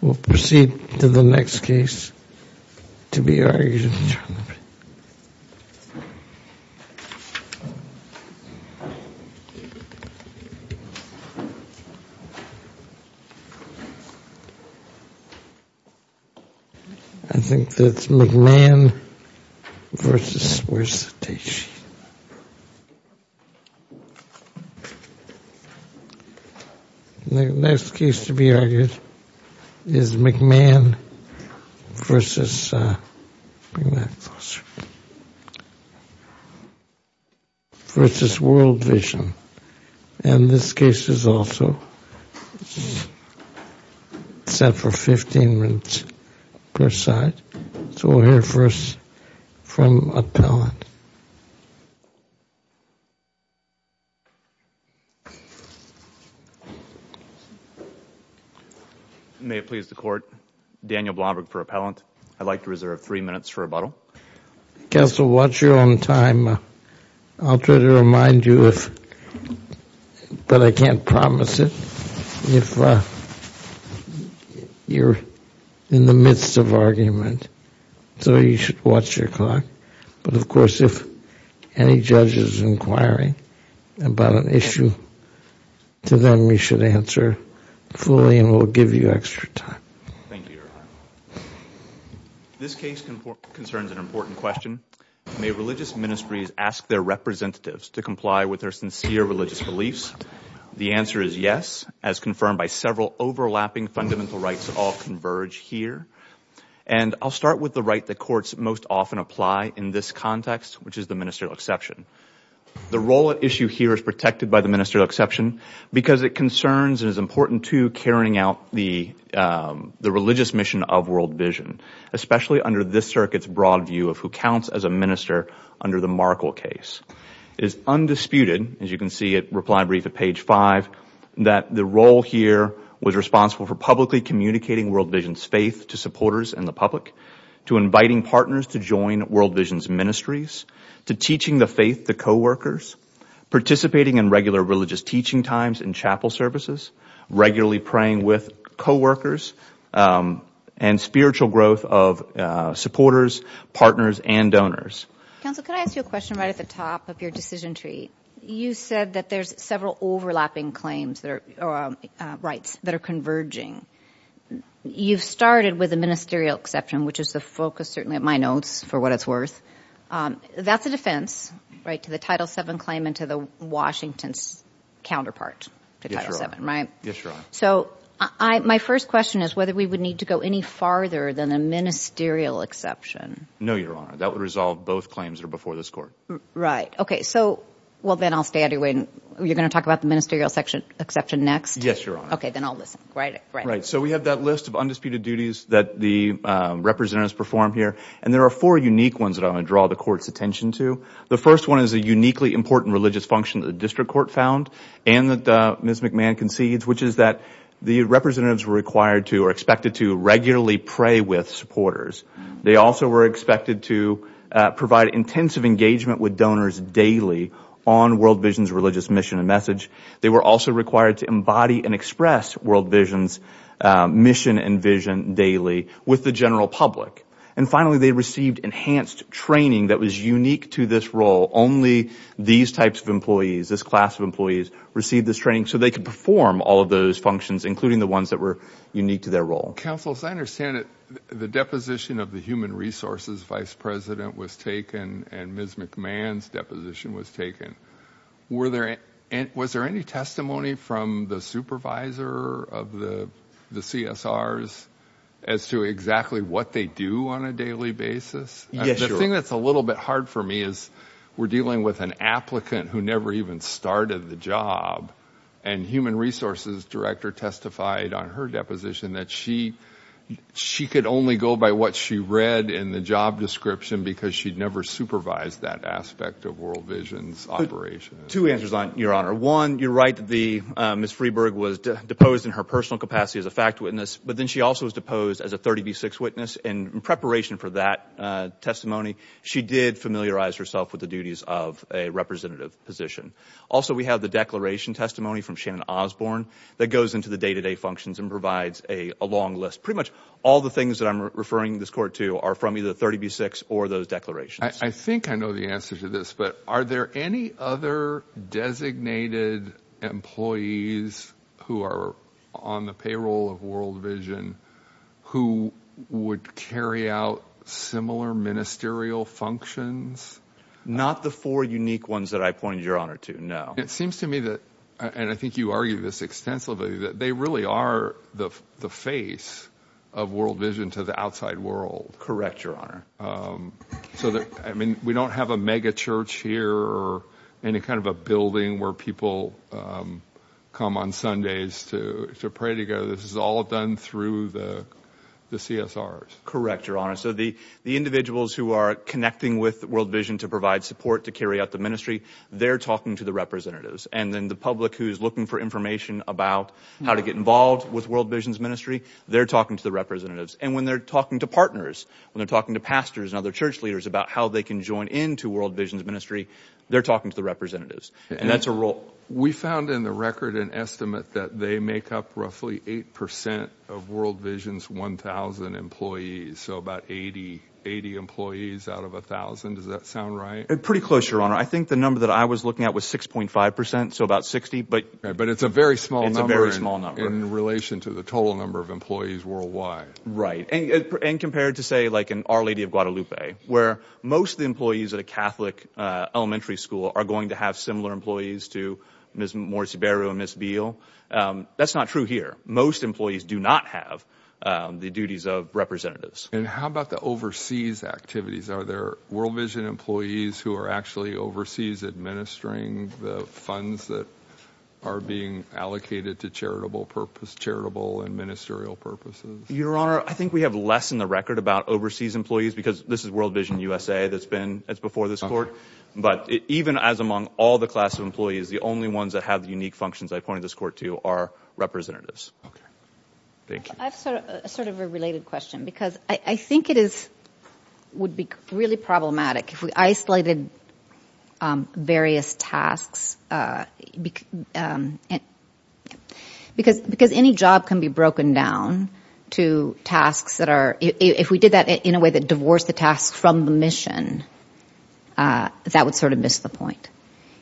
We'll proceed to the next case to be argued. I think that's McMahon versus, where's the date sheet? The next case to be argued is McMahon versus, bring that closer, versus World Vision. And this case is also set for 15 minutes per side. So we'll hear first from Appellant. May it please the Court, Daniel Blomberg for Appellant. I'd like to reserve three minutes for rebuttal. Counsel, watch your own time. I'll try to remind you, but I can't promise it, if you're in the midst of argument. So you should watch your clock. But, of course, if any judge is inquiring about an issue, to them you should answer fully and we'll give you extra time. Thank you, Your Honor. This case concerns an important question. May religious ministries ask their representatives to comply with their sincere religious beliefs? The answer is yes, as confirmed by several overlapping fundamental rights that all converge here. And I'll start with the right that courts most often apply in this context, which is the ministerial exception. The role at issue here is protected by the ministerial exception because it concerns and is important to carrying out the religious mission of World Vision, especially under this circuit's broad view of who counts as a minister under the Markle case. It is undisputed, as you can see at reply brief at page 5, that the role here was responsible for publicly communicating World Vision's faith to supporters and the public, to inviting partners to join World Vision's ministries, to teaching the faith to coworkers, participating in regular religious teaching times and chapel services, regularly praying with coworkers, and spiritual growth of supporters, partners, and donors. Counsel, could I ask you a question right at the top of your decision tree? You said that there's several overlapping claims or rights that are converging. You've started with the ministerial exception, which is the focus certainly at my notes, for what it's worth. That's a defense, right, to the Title VII claim and to the Washington's counterpart to Title VII. Yes, Your Honor. So my first question is whether we would need to go any farther than a ministerial exception. No, Your Honor. That would resolve both claims that are before this Court. Right. Okay. So, well, then I'll stay out of your way. You're going to talk about the ministerial exception next? Yes, Your Honor. Okay. Then I'll listen. Right. Right. So we have that list of undisputed duties that the representatives perform here, and there are four unique ones that I want to draw the Court's attention to. The first one is a uniquely important religious function that the District Court found and that Ms. McMahon concedes, which is that the representatives were required to or expected to regularly pray with supporters. They also were expected to provide intensive engagement with donors daily on World Vision's religious mission and message. They were also required to embody and express World Vision's mission and vision daily with the general public. And finally, they received enhanced training that was unique to this role. Only these types of employees, this class of employees, received this training so they could perform all of those functions, including the ones that were unique to their role. Counsel, as I understand it, the deposition of the human resources vice president was taken and Ms. McMahon's deposition was taken. Was there any testimony from the supervisor of the CSRs as to exactly what they do on a daily basis? Yes, Your Honor. The thing that's a little bit hard for me is we're dealing with an applicant who never even started the job, and human resources director testified on her deposition that she could only go by what she read in the job description because she'd never supervised that aspect of World Vision's operation. Two answers, Your Honor. One, you're right that Ms. Freeburg was deposed in her personal capacity as a fact witness, but then she also was deposed as a 30B6 witness, and in preparation for that testimony, she did familiarize herself with the duties of a representative position. Also, we have the declaration testimony from Shannon Osborne that goes into the day-to-day functions and provides a long list. Pretty much all the things that I'm referring this court to are from either 30B6 or those declarations. I think I know the answer to this, but are there any other designated employees who are on the payroll of World Vision who would carry out similar ministerial functions? Not the four unique ones that I pointed, Your Honor, to, no. It seems to me that, and I think you argue this extensively, that they really are the face of World Vision to the outside world. Correct, Your Honor. I mean, we don't have a megachurch here or any kind of a building where people come on Sundays to pray together. This is all done through the CSRs. Correct, Your Honor. So the individuals who are connecting with World Vision to provide support to carry out the ministry, they're talking to the representatives, and then the public who's looking for information about how to get involved with World Vision's ministry, they're talking to the representatives. And when they're talking to partners, when they're talking to pastors and other church leaders about how they can join into World Vision's ministry, they're talking to the representatives, and that's a role. We found in the record an estimate that they make up roughly 8% of World Vision's 1,000 employees, so about 80 employees out of 1,000. Does that sound right? Pretty close, Your Honor. I think the number that I was looking at was 6.5%, so about 60. But it's a very small number in relation to the total number of employees worldwide. Right. And compared to, say, like in Our Lady of Guadalupe, where most of the employees at a Catholic elementary school are going to have similar employees to Ms. Morisibero and Ms. Beale, that's not true here. Most employees do not have the duties of representatives. And how about the overseas activities? Are there World Vision employees who are actually overseas administering the funds that are being allocated to charitable and ministerial purposes? Your Honor, I think we have less in the record about overseas employees because this is World Vision USA that's before this court. But even as among all the class of employees, the only ones that have the unique functions I pointed this court to are representatives. Okay. Thank you. I have sort of a related question because I think it would be really problematic if we isolated various tasks because any job can be broken down to tasks that are, if we did that in a way that divorced the tasks from the mission, that would sort of miss the point.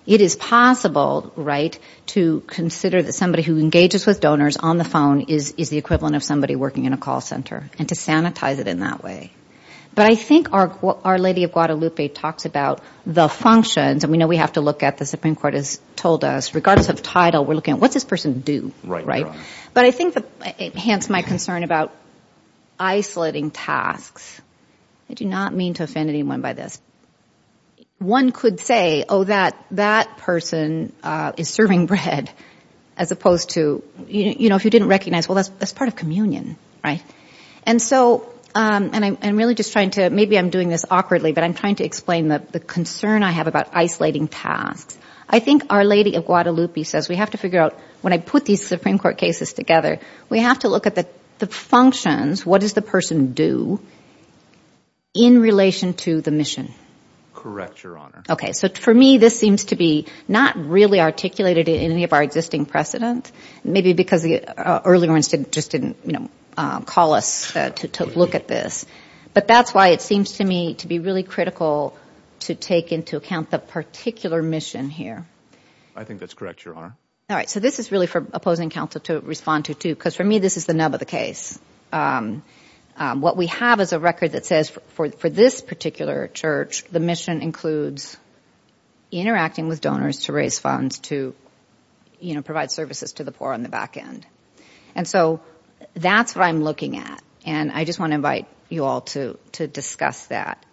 It is possible, right, to consider that somebody who engages with donors on the phone is the equivalent of somebody working in a call center and to sanitize it in that way. But I think Our Lady of Guadalupe talks about the functions, and we know we have to look at the Supreme Court has told us regardless of title, we're looking at what does this person do, right? But I think that it hints my concern about isolating tasks. I do not mean to offend anyone by this. One could say, oh, that person is serving bread as opposed to, you know, if you didn't recognize, well, that's part of communion, right? And so I'm really just trying to, maybe I'm doing this awkwardly, but I'm trying to explain the concern I have about isolating tasks. I think Our Lady of Guadalupe says we have to figure out when I put these Supreme Court cases together, we have to look at the functions, what does the person do in relation to the mission. Correct, Your Honor. Okay. So for me, this seems to be not really articulated in any of our existing precedent, maybe because the earlier ones just didn't, you know, call us to look at this. But that's why it seems to me to be really critical to take into account the particular mission here. I think that's correct, Your Honor. All right. So this is really for opposing counsel to respond to, too, because for me this is the nub of the case. What we have is a record that says for this particular church, the mission includes interacting with donors to raise funds to, you know, provide services to the poor on the back end. And so that's what I'm looking at, and I just want to invite you all to discuss that.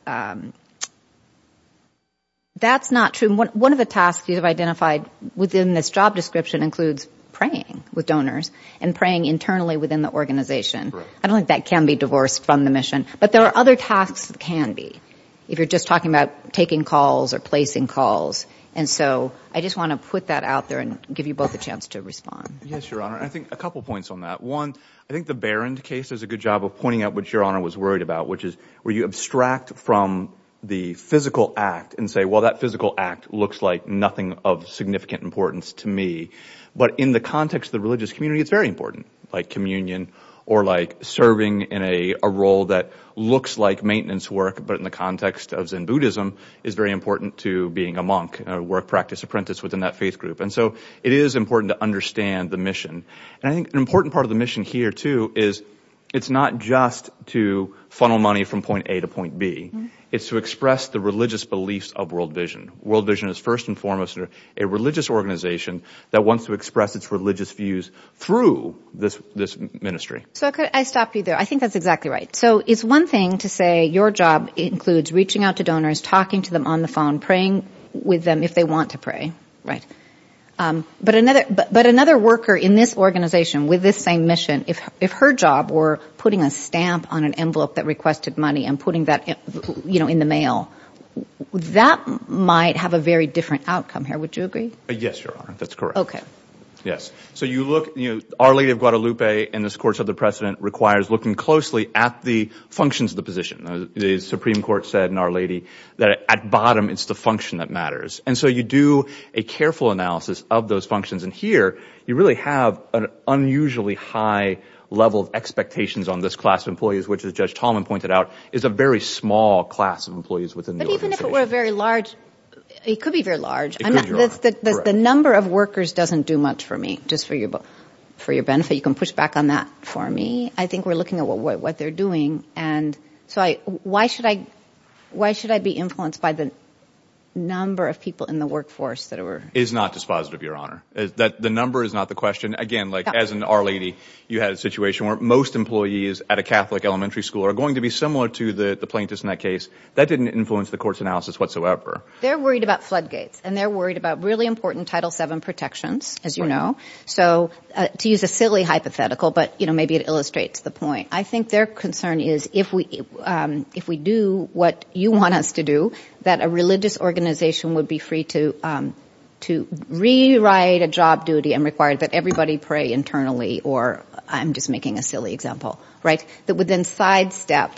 That's not true. One of the tasks you have identified within this job description includes praying with donors and praying internally within the organization. I don't think that can be divorced from the mission, but there are other tasks that can be. If you're just talking about taking calls or placing calls. And so I just want to put that out there and give you both a chance to respond. Yes, Your Honor. I think a couple points on that. One, I think the Barron case does a good job of pointing out what Your Honor was worried about, which is where you abstract from the physical act and say, well, that physical act looks like nothing of significant importance to me. But in the context of the religious community, it's very important, like communion or like serving in a role that looks like maintenance work, but in the context of Zen Buddhism, is very important to being a monk, a work practice apprentice within that faith group. And so it is important to understand the mission. And I think an important part of the mission here, too, is it's not just to funnel money from point A to point B. It's to express the religious beliefs of World Vision. World Vision is first and foremost a religious organization that wants to express its religious views through this ministry. So could I stop you there? I think that's exactly right. So it's one thing to say your job includes reaching out to donors, talking to them on the phone, praying with them if they want to pray, right? But another worker in this organization with this same mission, if her job were putting a stamp on an envelope that requested money and putting that in the mail, that might have a very different outcome here. Would you agree? Yes, Your Honor, that's correct. Yes. So you look, you know, Our Lady of Guadalupe in this course of the precedent requires looking closely at the functions of the position. The Supreme Court said in Our Lady that at bottom it's the function that matters. And so you do a careful analysis of those functions. And here you really have an unusually high level of expectations on this class of employees, which, as Judge Tolman pointed out, is a very small class of employees within the organization. But even if it were a very large, it could be very large. The number of workers doesn't do much for me, just for your benefit. You can push back on that for me. I think we're looking at what they're doing. And so why should I be influenced by the number of people in the workforce that are – It is not dispositive, Your Honor. The number is not the question. Again, like as in Our Lady, you had a situation where most employees at a Catholic elementary school are going to be similar to the plaintiffs in that case. That didn't influence the court's analysis whatsoever. They're worried about floodgates, and they're worried about really important Title VII protections, as you know. So to use a silly hypothetical, but maybe it illustrates the point, I think their concern is if we do what you want us to do, that a religious organization would be free to rewrite a job duty and require that everybody pray internally or – I'm just making a silly example – that would then sidestep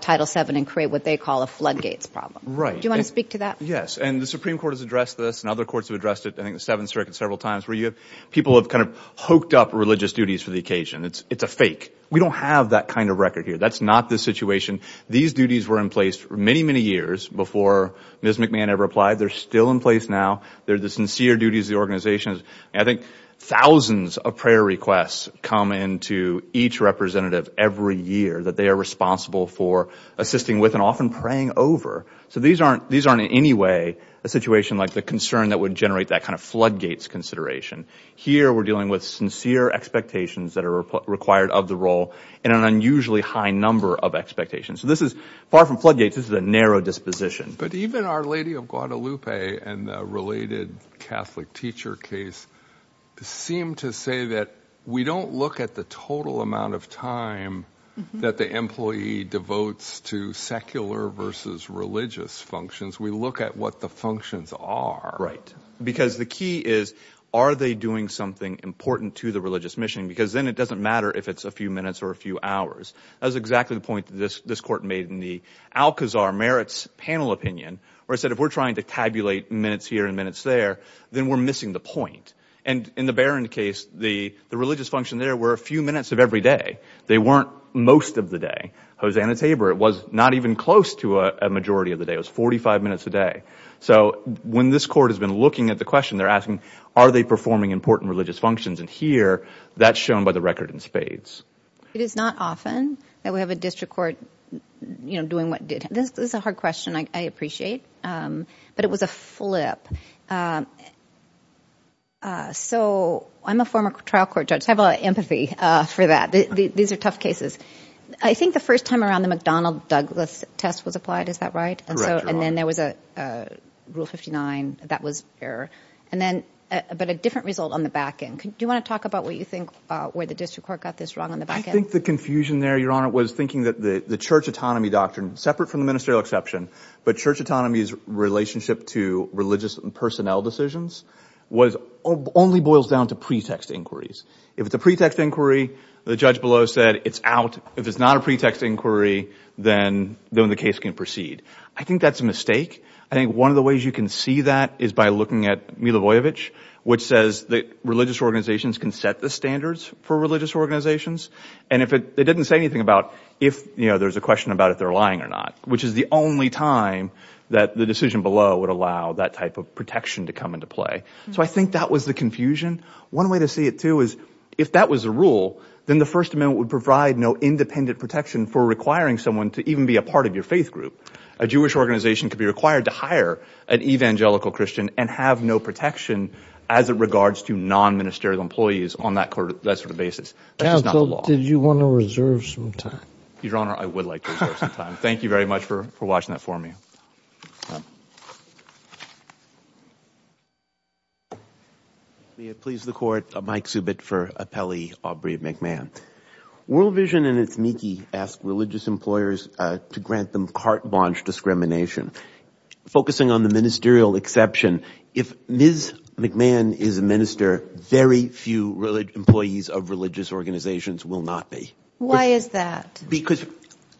Title VII and create what they call a floodgates problem. Right. Do you want to speak to that? Yes. And the Supreme Court has addressed this, and other courts have addressed it, I think the Seventh Circuit several times, where you have – people have kind of hooked up religious duties for the occasion. It's a fake. We don't have that kind of record here. That's not the situation. These duties were in place for many, many years before Ms. McMahon ever applied. They're still in place now. They're the sincere duties of the organization. I think thousands of prayer requests come in to each representative every year that they are responsible for assisting with and often praying over. So these aren't in any way a situation like the concern that would generate that kind of floodgates consideration. Here we're dealing with sincere expectations that are required of the role and an unusually high number of expectations. So this is far from floodgates. This is a narrow disposition. But even Our Lady of Guadalupe and the related Catholic teacher case seem to say that we don't look at the total amount of time that the employee devotes to secular versus religious functions. We look at what the functions are. Because the key is are they doing something important to the religious mission? Because then it doesn't matter if it's a few minutes or a few hours. That was exactly the point that this court made in the Alcazar merits panel opinion where it said if we're trying to tabulate minutes here and minutes there, then we're missing the point. And in the Barron case, the religious function there were a few minutes of every day. They weren't most of the day. Hosanna Tabor, it was not even close to a majority of the day. It was 45 minutes a day. So when this court has been looking at the question, they're asking are they performing important religious functions? And here that's shown by the record in spades. It is not often that we have a district court doing what it did. This is a hard question. I appreciate. But it was a flip. So I'm a former trial court judge. I have a lot of empathy for that. These are tough cases. I think the first time around the McDonnell-Douglas test was applied. Is that right? And then there was a Rule 59. That was error. But a different result on the back end. Do you want to talk about what you think where the district court got this wrong on the back end? I think the confusion there, Your Honor, was thinking that the church autonomy doctrine, separate from the ministerial exception, but church autonomy's relationship to religious and personnel decisions, only boils down to pretext inquiries. If it's a pretext inquiry, the judge below said it's out. If it's not a pretext inquiry, then the case can proceed. I think that's a mistake. I think one of the ways you can see that is by looking at Milovojevic, which says that religious organizations can set the standards for religious organizations. And it didn't say anything about if there's a question about if they're lying or not, which is the only time that the decision below would allow that type of protection to come into play. So I think that was the confusion. One way to see it, too, is if that was the rule, then the First Amendment would provide no independent protection for requiring someone to even be a part of your faith group. A Jewish organization could be required to hire an evangelical Christian and have no protection as it regards to non-ministerial employees on that sort of basis. That's just not the law. Now, Bill, did you want to reserve some time? Your Honor, I would like to reserve some time. Thank you very much for watching that for me. May it please the Court, Mike Subit for Appellee Aubrey McMahon. World Vision and its NICI ask religious employers to grant them carte blanche discrimination. Focusing on the ministerial exception, if Ms. McMahon is a minister, very few employees of religious organizations will not be. Why is that? Because,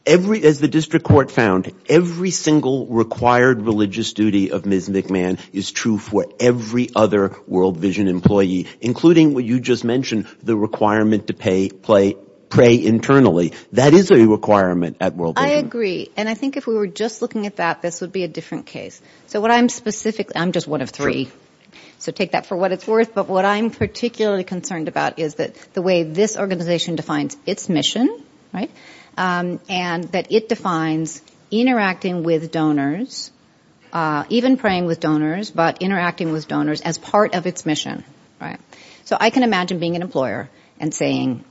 as the district court found, every single required religious duty of Ms. McMahon is true for every other World Vision employee, including what you just mentioned, the requirement to pray internally. That is a requirement at World Vision. I agree. And I think if we were just looking at that, this would be a different case. I'm just one of three, so take that for what it's worth. But what I'm particularly concerned about is the way this organization defines its mission, right, and that it defines interacting with donors, even praying with donors, but interacting with donors as part of its mission, right? So I can imagine being an employer and saying,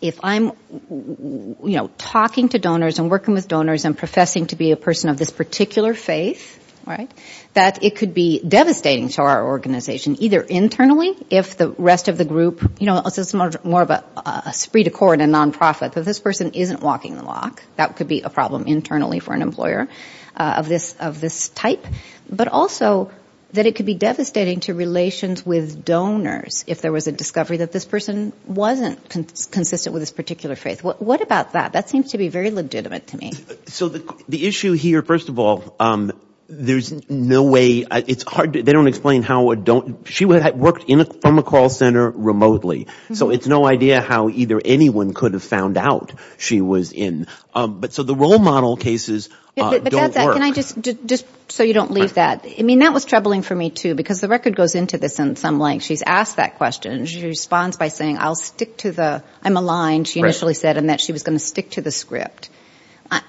if I'm, you know, talking to donors and working with donors and professing to be a person of this particular faith, right, that it could be devastating to our organization, either internally, if the rest of the group, you know, this is more of a spree to court and nonprofit, but this person isn't walking the walk. That could be a problem internally for an employer of this type. But also that it could be devastating to relations with donors if there was a discovery that this person wasn't consistent with this particular faith. What about that? That seems to be very legitimate to me. So the issue here, first of all, there's no way, it's hard, they don't explain how a don't, she worked from a call center remotely, so it's no idea how either anyone could have found out she was in. But so the role model cases don't work. Can I just, just so you don't leave that. I mean, that was troubling for me, too, because the record goes into this in some length. She's asked that question. She responds by saying, I'll stick to the, I'm aligned, she initially said, in that she was going to stick to the script.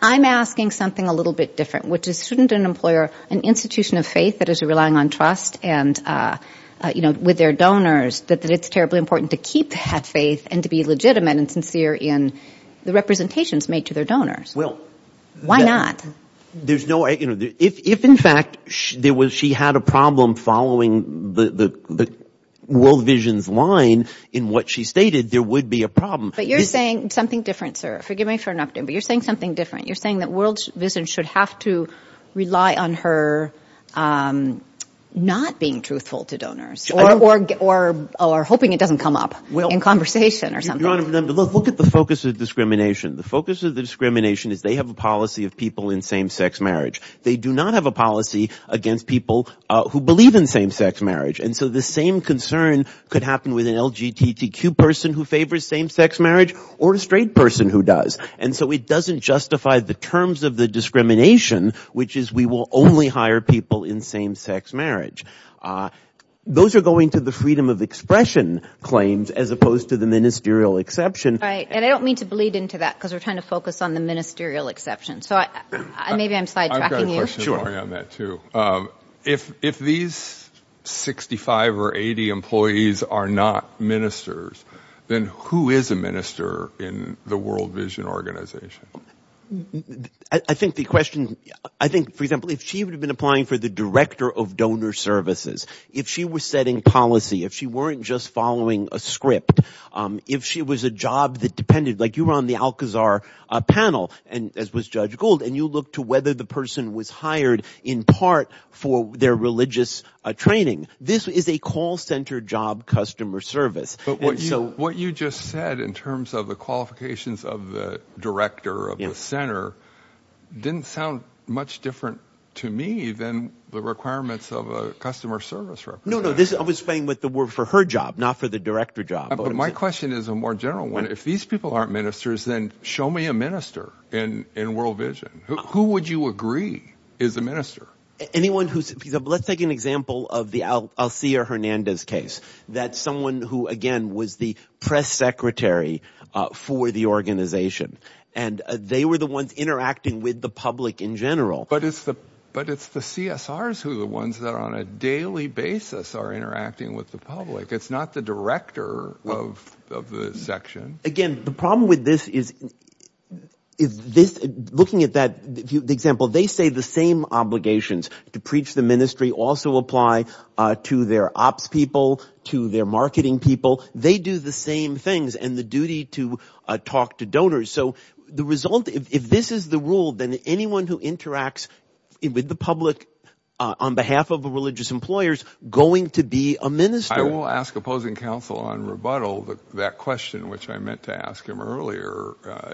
I'm asking something a little bit different, which is shouldn't an employer, an institution of faith that is relying on trust and, you know, with their donors, that it's terribly important to keep that faith and to be legitimate and sincere in the representations made to their donors. Well. Why not? There's no, you know, if, in fact, there was, she had a problem following the World Vision's line in what she stated, there would be a problem. But you're saying something different, sir. Forgive me for interrupting, but you're saying something different. You're saying that World Vision should have to rely on her not being truthful to donors or hoping it doesn't come up in conversation or something. Look at the focus of discrimination. The focus of the discrimination is they have a policy of people in same-sex marriage. They do not have a policy against people who believe in same-sex marriage. And so the same concern could happen with an LGTTQ person who favors same-sex marriage or a straight person who does. And so it doesn't justify the terms of the discrimination, which is we will only hire people in same-sex marriage. Those are going to the freedom of expression claims as opposed to the ministerial exception. Right. And I don't mean to bleed into that because we're trying to focus on the ministerial exception. So maybe I'm sidetracking you. I've got a question for you on that too. If these 65 or 80 employees are not ministers, then who is a minister in the World Vision organization? I think the question, I think, for example, if she would have been applying for the director of donor services, if she was setting policy, if she weren't just following a script, if she was a job that depended, like you were on the Alcazar panel, as was Judge Gould, and you looked to whether the person was hired in part for their religious training. This is a call center job customer service. But what you just said in terms of the qualifications of the director of the center didn't sound much different to me than the requirements of a customer service representative. No, no, no. I'm explaining for her job, not for the director job. But my question is a more general one. If these people aren't ministers, then show me a minister in World Vision. Who would you agree is a minister? Let's take an example of the Alcia Hernandez case. That's someone who, again, was the press secretary for the organization. And they were the ones interacting with the public in general. But it's the CSRs who are the ones that on a daily basis are interacting with the public. It's not the director of the section. Again, the problem with this is looking at that example, they say the same obligations to preach the ministry also apply to their ops people, to their marketing people. They do the same things and the duty to talk to donors. So the result, if this is the rule, then anyone who interacts with the public on behalf of religious employers going to be a minister. I will ask opposing counsel on rebuttal that question which I meant to ask him earlier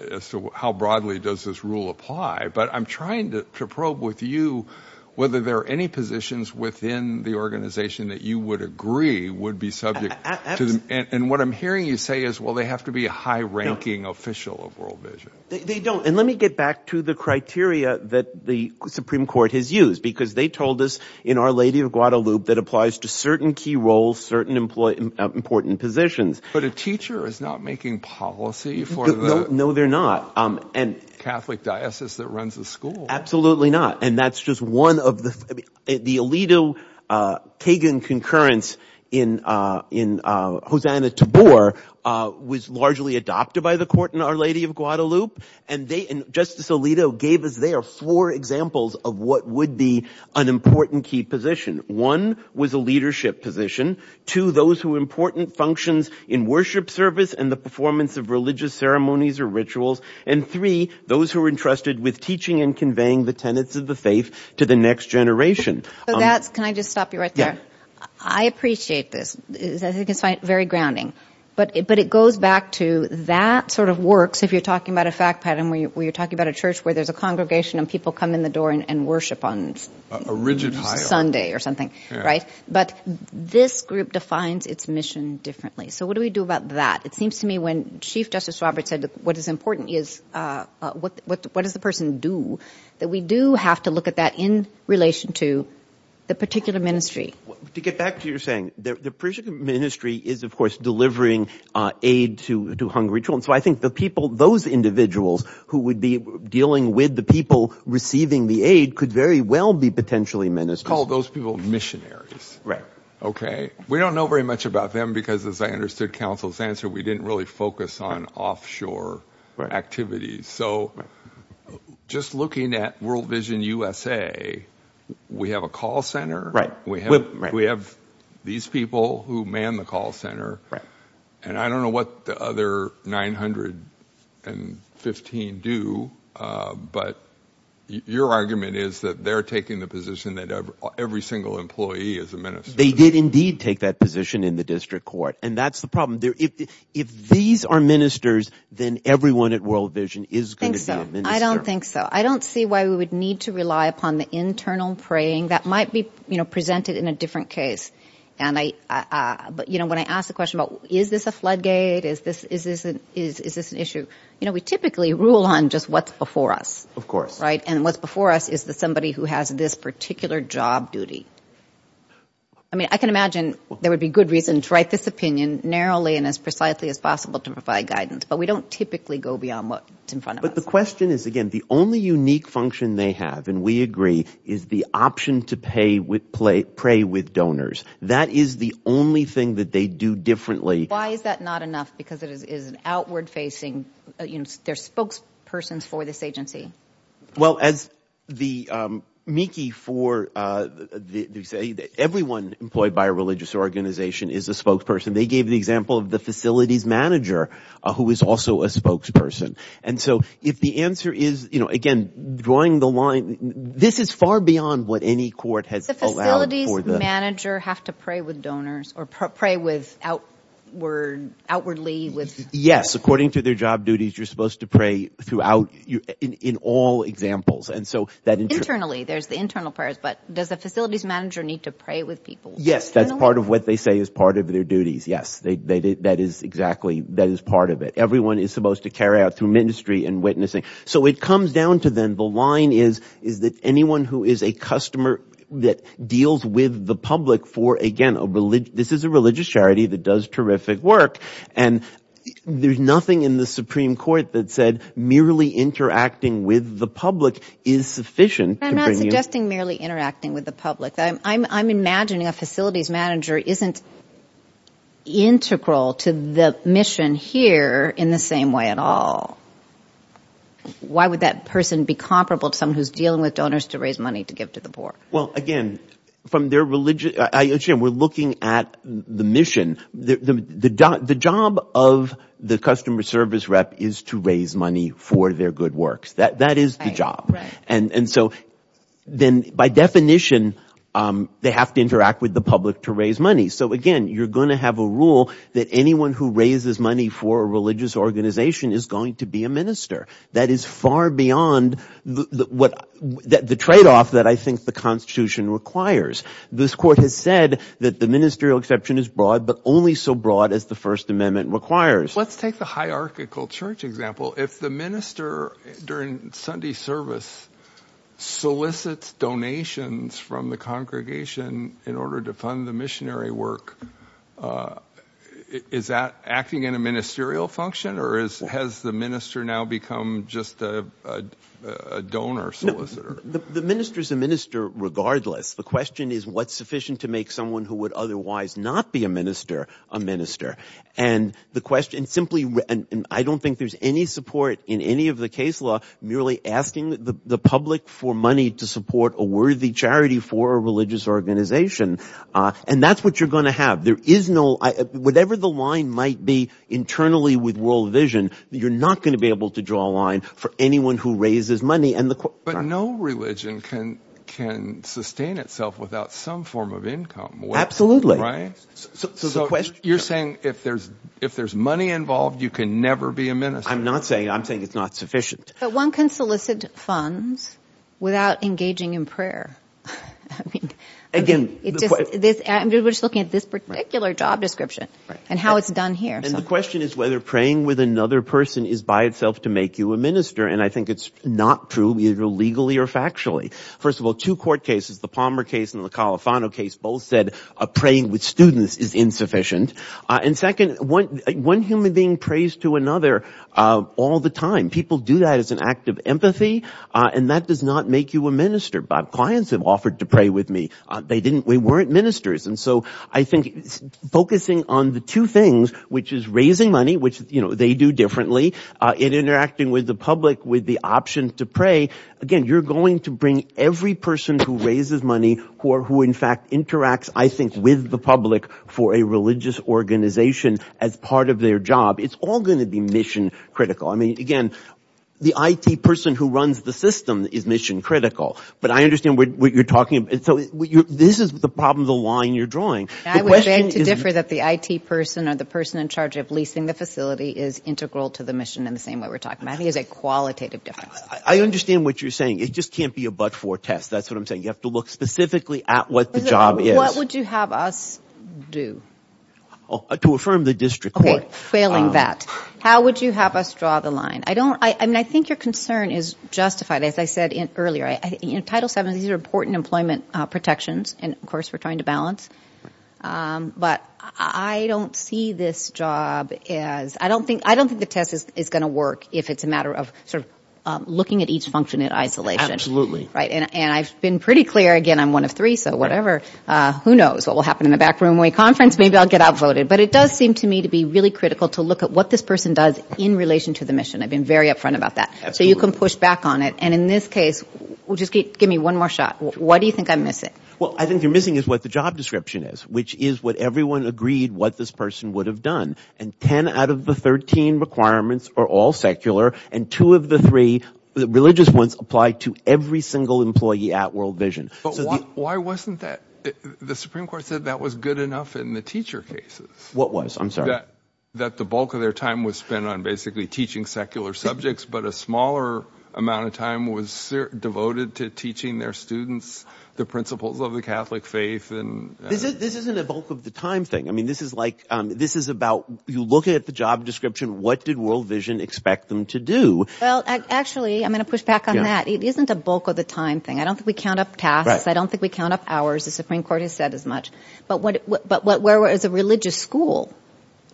as to how broadly does this rule apply. But I'm trying to probe with you whether there are any positions within the organization that you would agree would be subject. And what I'm hearing you say is, well, they have to be a high-ranking official of World Vision. They don't. And let me get back to the criteria that the Supreme Court has used because they told us in Our Lady of Guadalupe that applies to certain key roles, certain important positions. But a teacher is not making policy for the Catholic diocese that runs the school. Absolutely not. And that's just one of the – the Alito-Kagan concurrence in Hosanna-Tabor was largely adopted by the court in Our Lady of Guadalupe. And Justice Alito gave us there four examples of what would be an important key position. One was a leadership position. Two, those who were important functions in worship service and the performance of religious ceremonies or rituals. And three, those who were entrusted with teaching and conveying the tenets of the faith to the next generation. So that's – can I just stop you right there? Yeah. I appreciate this. I think it's very grounding. But it goes back to that sort of works if you're talking about a fact pattern where you're talking about a church where there's a congregation and people come in the door and worship on Sunday or something. Right? But this group defines its mission differently. So what do we do about that? It seems to me when Chief Justice Roberts said what is important is what does the person do, that we do have to look at that in relation to the particular ministry. To get back to your saying, the particular ministry is, of course, delivering aid to hungry children. So I think the people – those individuals who would be dealing with the people receiving the aid could very well be potentially ministers. Call those people missionaries. Right. Okay? We don't know very much about them because, as I understood counsel's answer, we didn't really focus on offshore activities. So just looking at World Vision USA, we have a call center. Right. We have these people who man the call center. Right. And I don't know what the other 915 do, but your argument is that they're taking the position that every single employee is a minister. They did indeed take that position in the district court, and that's the problem. If these are ministers, then everyone at World Vision is going to be a minister. I don't think so. I don't see why we would need to rely upon the internal preying. That might be presented in a different case. But, you know, when I ask the question about is this a floodgate, is this an issue, you know, we typically rule on just what's before us. Of course. Right? And what's before us is somebody who has this particular job duty. I mean, I can imagine there would be good reason to write this opinion narrowly and as precisely as possible to provide guidance, but we don't typically go beyond what's in front of us. But the question is, again, the only unique function they have, and we agree, is the option to pay with donors. That is the only thing that they do differently. Why is that not enough? Because it is an outward-facing, you know, they're spokespersons for this agency. Well, as the mickey for, they say, everyone employed by a religious organization is a spokesperson. They gave the example of the facilities manager who is also a spokesperson. And so if the answer is, you know, again, drawing the line, this is far beyond what any court has allowed for the – The facilities manager have to pray with donors or pray with outwardly with – Internally, there's the internal prayers, but does the facilities manager need to pray with people? Yes, that's part of what they say is part of their duties. Yes, that is exactly – that is part of it. Everyone is supposed to carry out through ministry and witnessing. So it comes down to then the line is that anyone who is a customer that deals with the public for, again, this is a religious charity that does terrific work. And there's nothing in the Supreme Court that said merely interacting with the public is sufficient. I'm not suggesting merely interacting with the public. I'm imagining a facilities manager isn't integral to the mission here in the same way at all. Why would that person be comparable to someone who's dealing with donors to raise money to give to the poor? Well, again, from their – we're looking at the mission. The job of the customer service rep is to raise money for their good works. That is the job. And so then by definition, they have to interact with the public to raise money. So, again, you're going to have a rule that anyone who raises money for a religious organization is going to be a minister. That is far beyond the tradeoff that I think the constitution requires. This court has said that the ministerial exception is broad but only so broad as the First Amendment requires. Let's take the hierarchical church example. If the minister during Sunday service solicits donations from the congregation in order to fund the missionary work, is that acting in a ministerial function or has the minister now become just a donor solicitor? The minister is a minister regardless. The question is what's sufficient to make someone who would otherwise not be a minister a minister. And the question simply – and I don't think there's any support in any of the case law merely asking the public for money to support a worthy charity for a religious organization. And that's what you're going to have. There is no – whatever the line might be internally with World Vision, you're not going to be able to draw a line for anyone who raises money. But no religion can sustain itself without some form of income. So you're saying if there's money involved, you can never be a minister. I'm not saying – I'm saying it's not sufficient. But one can solicit funds without engaging in prayer. Again – I'm just looking at this particular job description and how it's done here. And the question is whether praying with another person is by itself to make you a minister. And I think it's not true either legally or factually. First of all, two court cases, the Palmer case and the Califano case, both said praying with students is insufficient. And second, one human being prays to another all the time. People do that as an act of empathy. And that does not make you a minister. My clients have offered to pray with me. They didn't – they weren't ministers. And so I think focusing on the two things, which is raising money, which they do differently, and interacting with the public with the option to pray, again, you're going to bring every person who raises money, who in fact interacts, I think, with the public for a religious organization as part of their job. It's all going to be mission critical. I mean, again, the IT person who runs the system is mission critical. But I understand what you're talking about. And so this is the problem, the line you're drawing. I would beg to differ that the IT person or the person in charge of leasing the facility is integral to the mission in the same way we're talking about. I think it's a qualitative difference. I understand what you're saying. It just can't be a but-for test. That's what I'm saying. You have to look specifically at what the job is. What would you have us do? To affirm the district court. Okay, failing that. How would you have us draw the line? I don't – I mean, I think your concern is justified, as I said earlier. Title VII, these are important employment protections. And, of course, we're trying to balance. But I don't see this job as – I don't think the test is going to work if it's a matter of sort of looking at each function in isolation. Absolutely. Right? And I've been pretty clear – again, I'm one of three, so whatever. Who knows what will happen in the back room when we conference? Maybe I'll get outvoted. But it does seem to me to be really critical to look at what this person does in relation to the mission. I've been very upfront about that. Absolutely. So you can push back on it. And in this case – well, just give me one more shot. What do you think I'm missing? Well, I think you're missing is what the job description is, which is what everyone agreed what this person would have done. And ten out of the 13 requirements are all secular. And two of the three religious ones apply to every single employee at World Vision. But why wasn't that – the Supreme Court said that was good enough in the teacher cases. What was? I'm sorry. That the bulk of their time was spent on basically teaching secular subjects, but a smaller amount of time was devoted to teaching their students the principles of the Catholic faith. This isn't a bulk of the time thing. I mean this is like – this is about – you look at the job description. What did World Vision expect them to do? Well, actually, I'm going to push back on that. It isn't a bulk of the time thing. I don't think we count up tasks. I don't think we count up hours. The Supreme Court has said as much. But where was the religious school?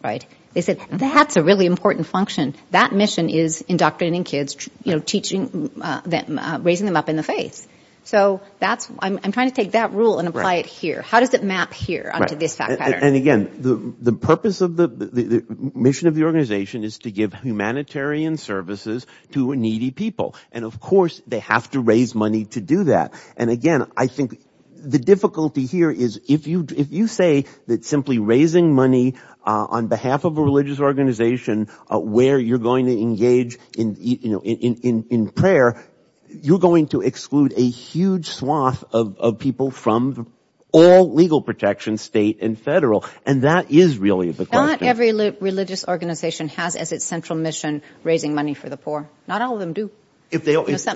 They said that's a really important function. That mission is indoctrinating kids, teaching them, raising them up in the faith. So that's – I'm trying to take that rule and apply it here. How does it map here onto this fact pattern? And again, the purpose of the – the mission of the organization is to give humanitarian services to needy people. And of course, they have to raise money to do that. And again, I think the difficulty here is if you say that simply raising money on behalf of a religious organization where you're going to engage in prayer, you're going to exclude a huge swath of people from all legal protection, state and federal. And that is really the question. Not every religious organization has as its central mission raising money for the poor. Not all of them do.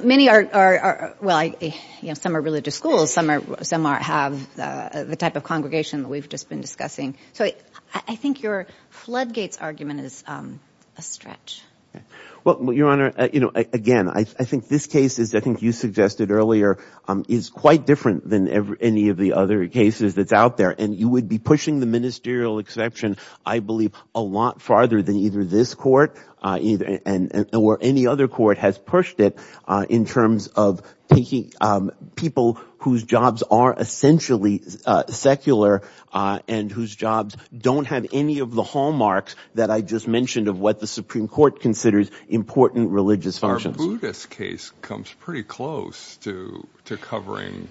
Many are – well, some are religious schools. Some are – have the type of congregation that we've just been discussing. So I think your floodgates argument is a stretch. Well, Your Honor, again, I think this case is – I think you suggested earlier is quite different than any of the other cases that's out there. And you would be pushing the ministerial exception, I believe, a lot farther than either this court or any other court has pushed it in terms of taking people whose jobs are essentially secular and whose jobs don't have any of the hallmarks that I just mentioned of what the Supreme Court considers important religious functions. The Buddhist case comes pretty close to covering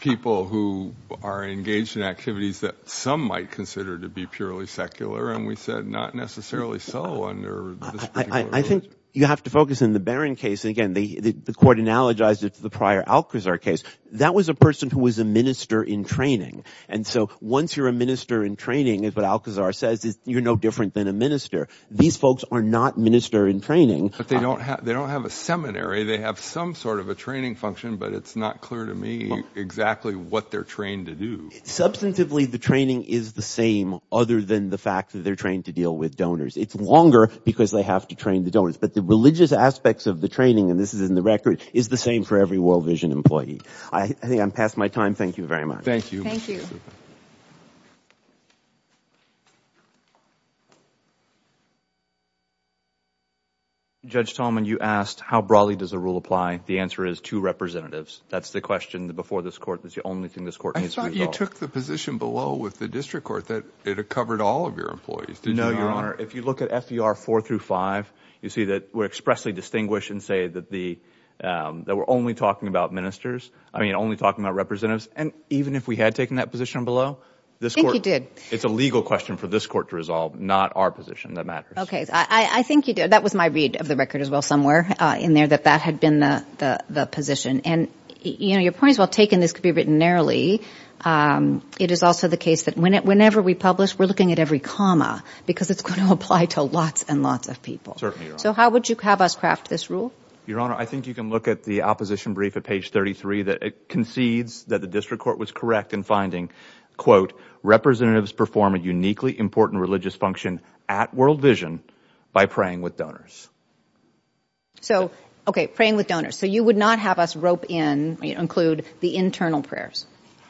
people who are engaged in activities that some might consider to be purely secular. And we said not necessarily so under this particular case. I think you have to focus on the Barron case. Again, the court analogized it to the prior Alcazar case. That was a person who was a minister in training. And so once you're a minister in training, as what Alcazar says, you're no different than a minister. These folks are not minister in training. But they don't have a seminary. They have some sort of a training function, but it's not clear to me exactly what they're trained to do. Substantively, the training is the same other than the fact that they're trained to deal with donors. It's longer because they have to train the donors. But the religious aspects of the training – and this is in the record – is the same for every World Vision employee. I think I'm past my time. Thank you very much. Thank you. Judge Talman, you asked how broadly does the rule apply. The answer is two representatives. That's the question before this court. That's the only thing this court needs to resolve. I thought you took the position below with the district court that it covered all of your employees. Did you not? No, Your Honor. If you look at FER 4 through 5, you see that we're expressly distinguished and say that we're only talking about ministers – I mean only talking about representatives. And even if we had taken that position below, this court – I think you did. It's a legal question for this court to resolve, not our position. That matters. Okay. I think you did. That was my read of the record as well somewhere in there that that had been the position. And, you know, your point is well taken. This could be written narrowly. It is also the case that whenever we publish, we're looking at every comma because it's going to apply to lots and lots of people. Certainly, Your Honor. So how would you have us craft this rule? Your Honor, I think you can look at the opposition brief at page 33 that concedes that the district court was correct in finding, quote, representatives perform a uniquely important religious function at World Vision by praying with donors. So, okay, praying with donors. So you would not have us rope in – include the internal prayers?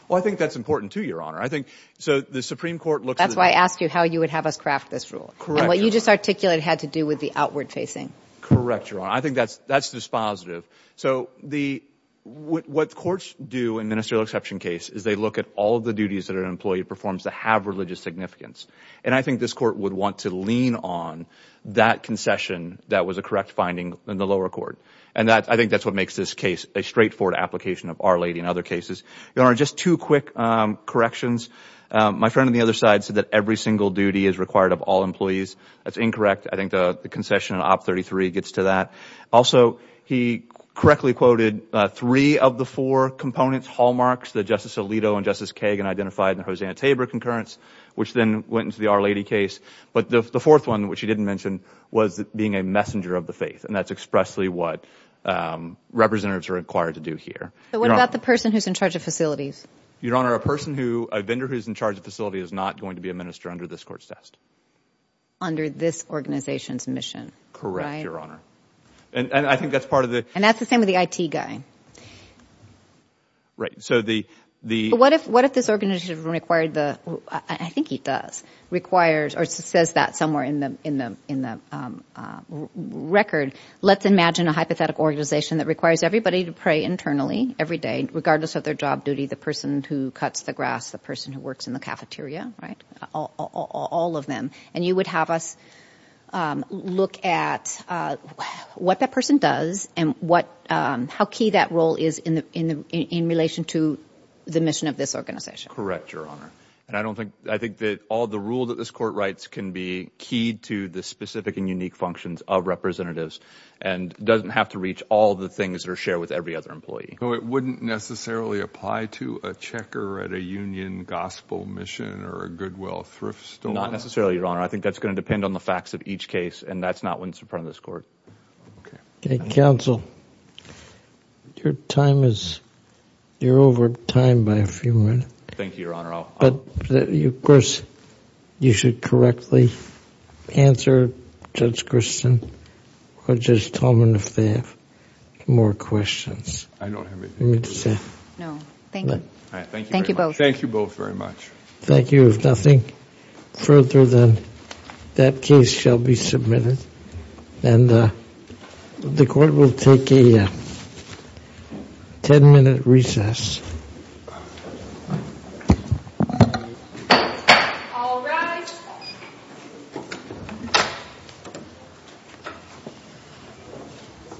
Well, I think that's important, too, Your Honor. I think – so the Supreme Court looks at – That's why I asked you how you would have us craft this rule. Correct, Your Honor. And what you just articulated had to do with the outward facing. Correct, Your Honor. I think that's dispositive. So the – what courts do in ministerial exception case is they look at all of the duties that an employee performs that have religious significance. And I think this court would want to lean on that concession that was a correct finding in the lower court. And I think that's what makes this case a straightforward application of Our Lady and other cases. Your Honor, just two quick corrections. My friend on the other side said that every single duty is required of all employees. That's incorrect. I think the concession in Op 33 gets to that. Also, he correctly quoted three of the four components, hallmarks that Justice Alito and Justice Kagan identified in the Hosanna-Tabor concurrence, which then went into the Our Lady case. But the fourth one, which he didn't mention, was being a messenger of the faith. And that's expressly what representatives are required to do here. But what about the person who's in charge of facilities? Your Honor, a person who – a vendor who's in charge of a facility is not going to be a minister under this court's test. Under this organization's mission, right? Yes, Your Honor. And I think that's part of the – And that's the same with the IT guy. Right. So the – But what if this organization required the – I think he does – requires or says that somewhere in the record, let's imagine a hypothetical organization that requires everybody to pray internally every day, regardless of their job duty, the person who cuts the grass, the person who works in the cafeteria, right, all of them. And you would have us look at what that person does and what – how key that role is in relation to the mission of this organization. Correct, Your Honor. And I don't think – I think that all the rule that this court writes can be keyed to the specific and unique functions of representatives and doesn't have to reach all the things that are shared with every other employee. So it wouldn't necessarily apply to a checker at a union gospel mission or a Goodwill thrift store? Well, not necessarily, Your Honor. I think that's going to depend on the facts of each case, and that's not what's in front of this court. Okay. Counsel, your time is – you're over time by a few minutes. Thank you, Your Honor. But, of course, you should correctly answer Judge Christen or Judge Tolman if they have more questions. I don't have anything. No. Thank you. Thank you both. Thank you both very much. Thank you. If nothing further, then that case shall be submitted. And the court will take a ten-minute recess. All rise.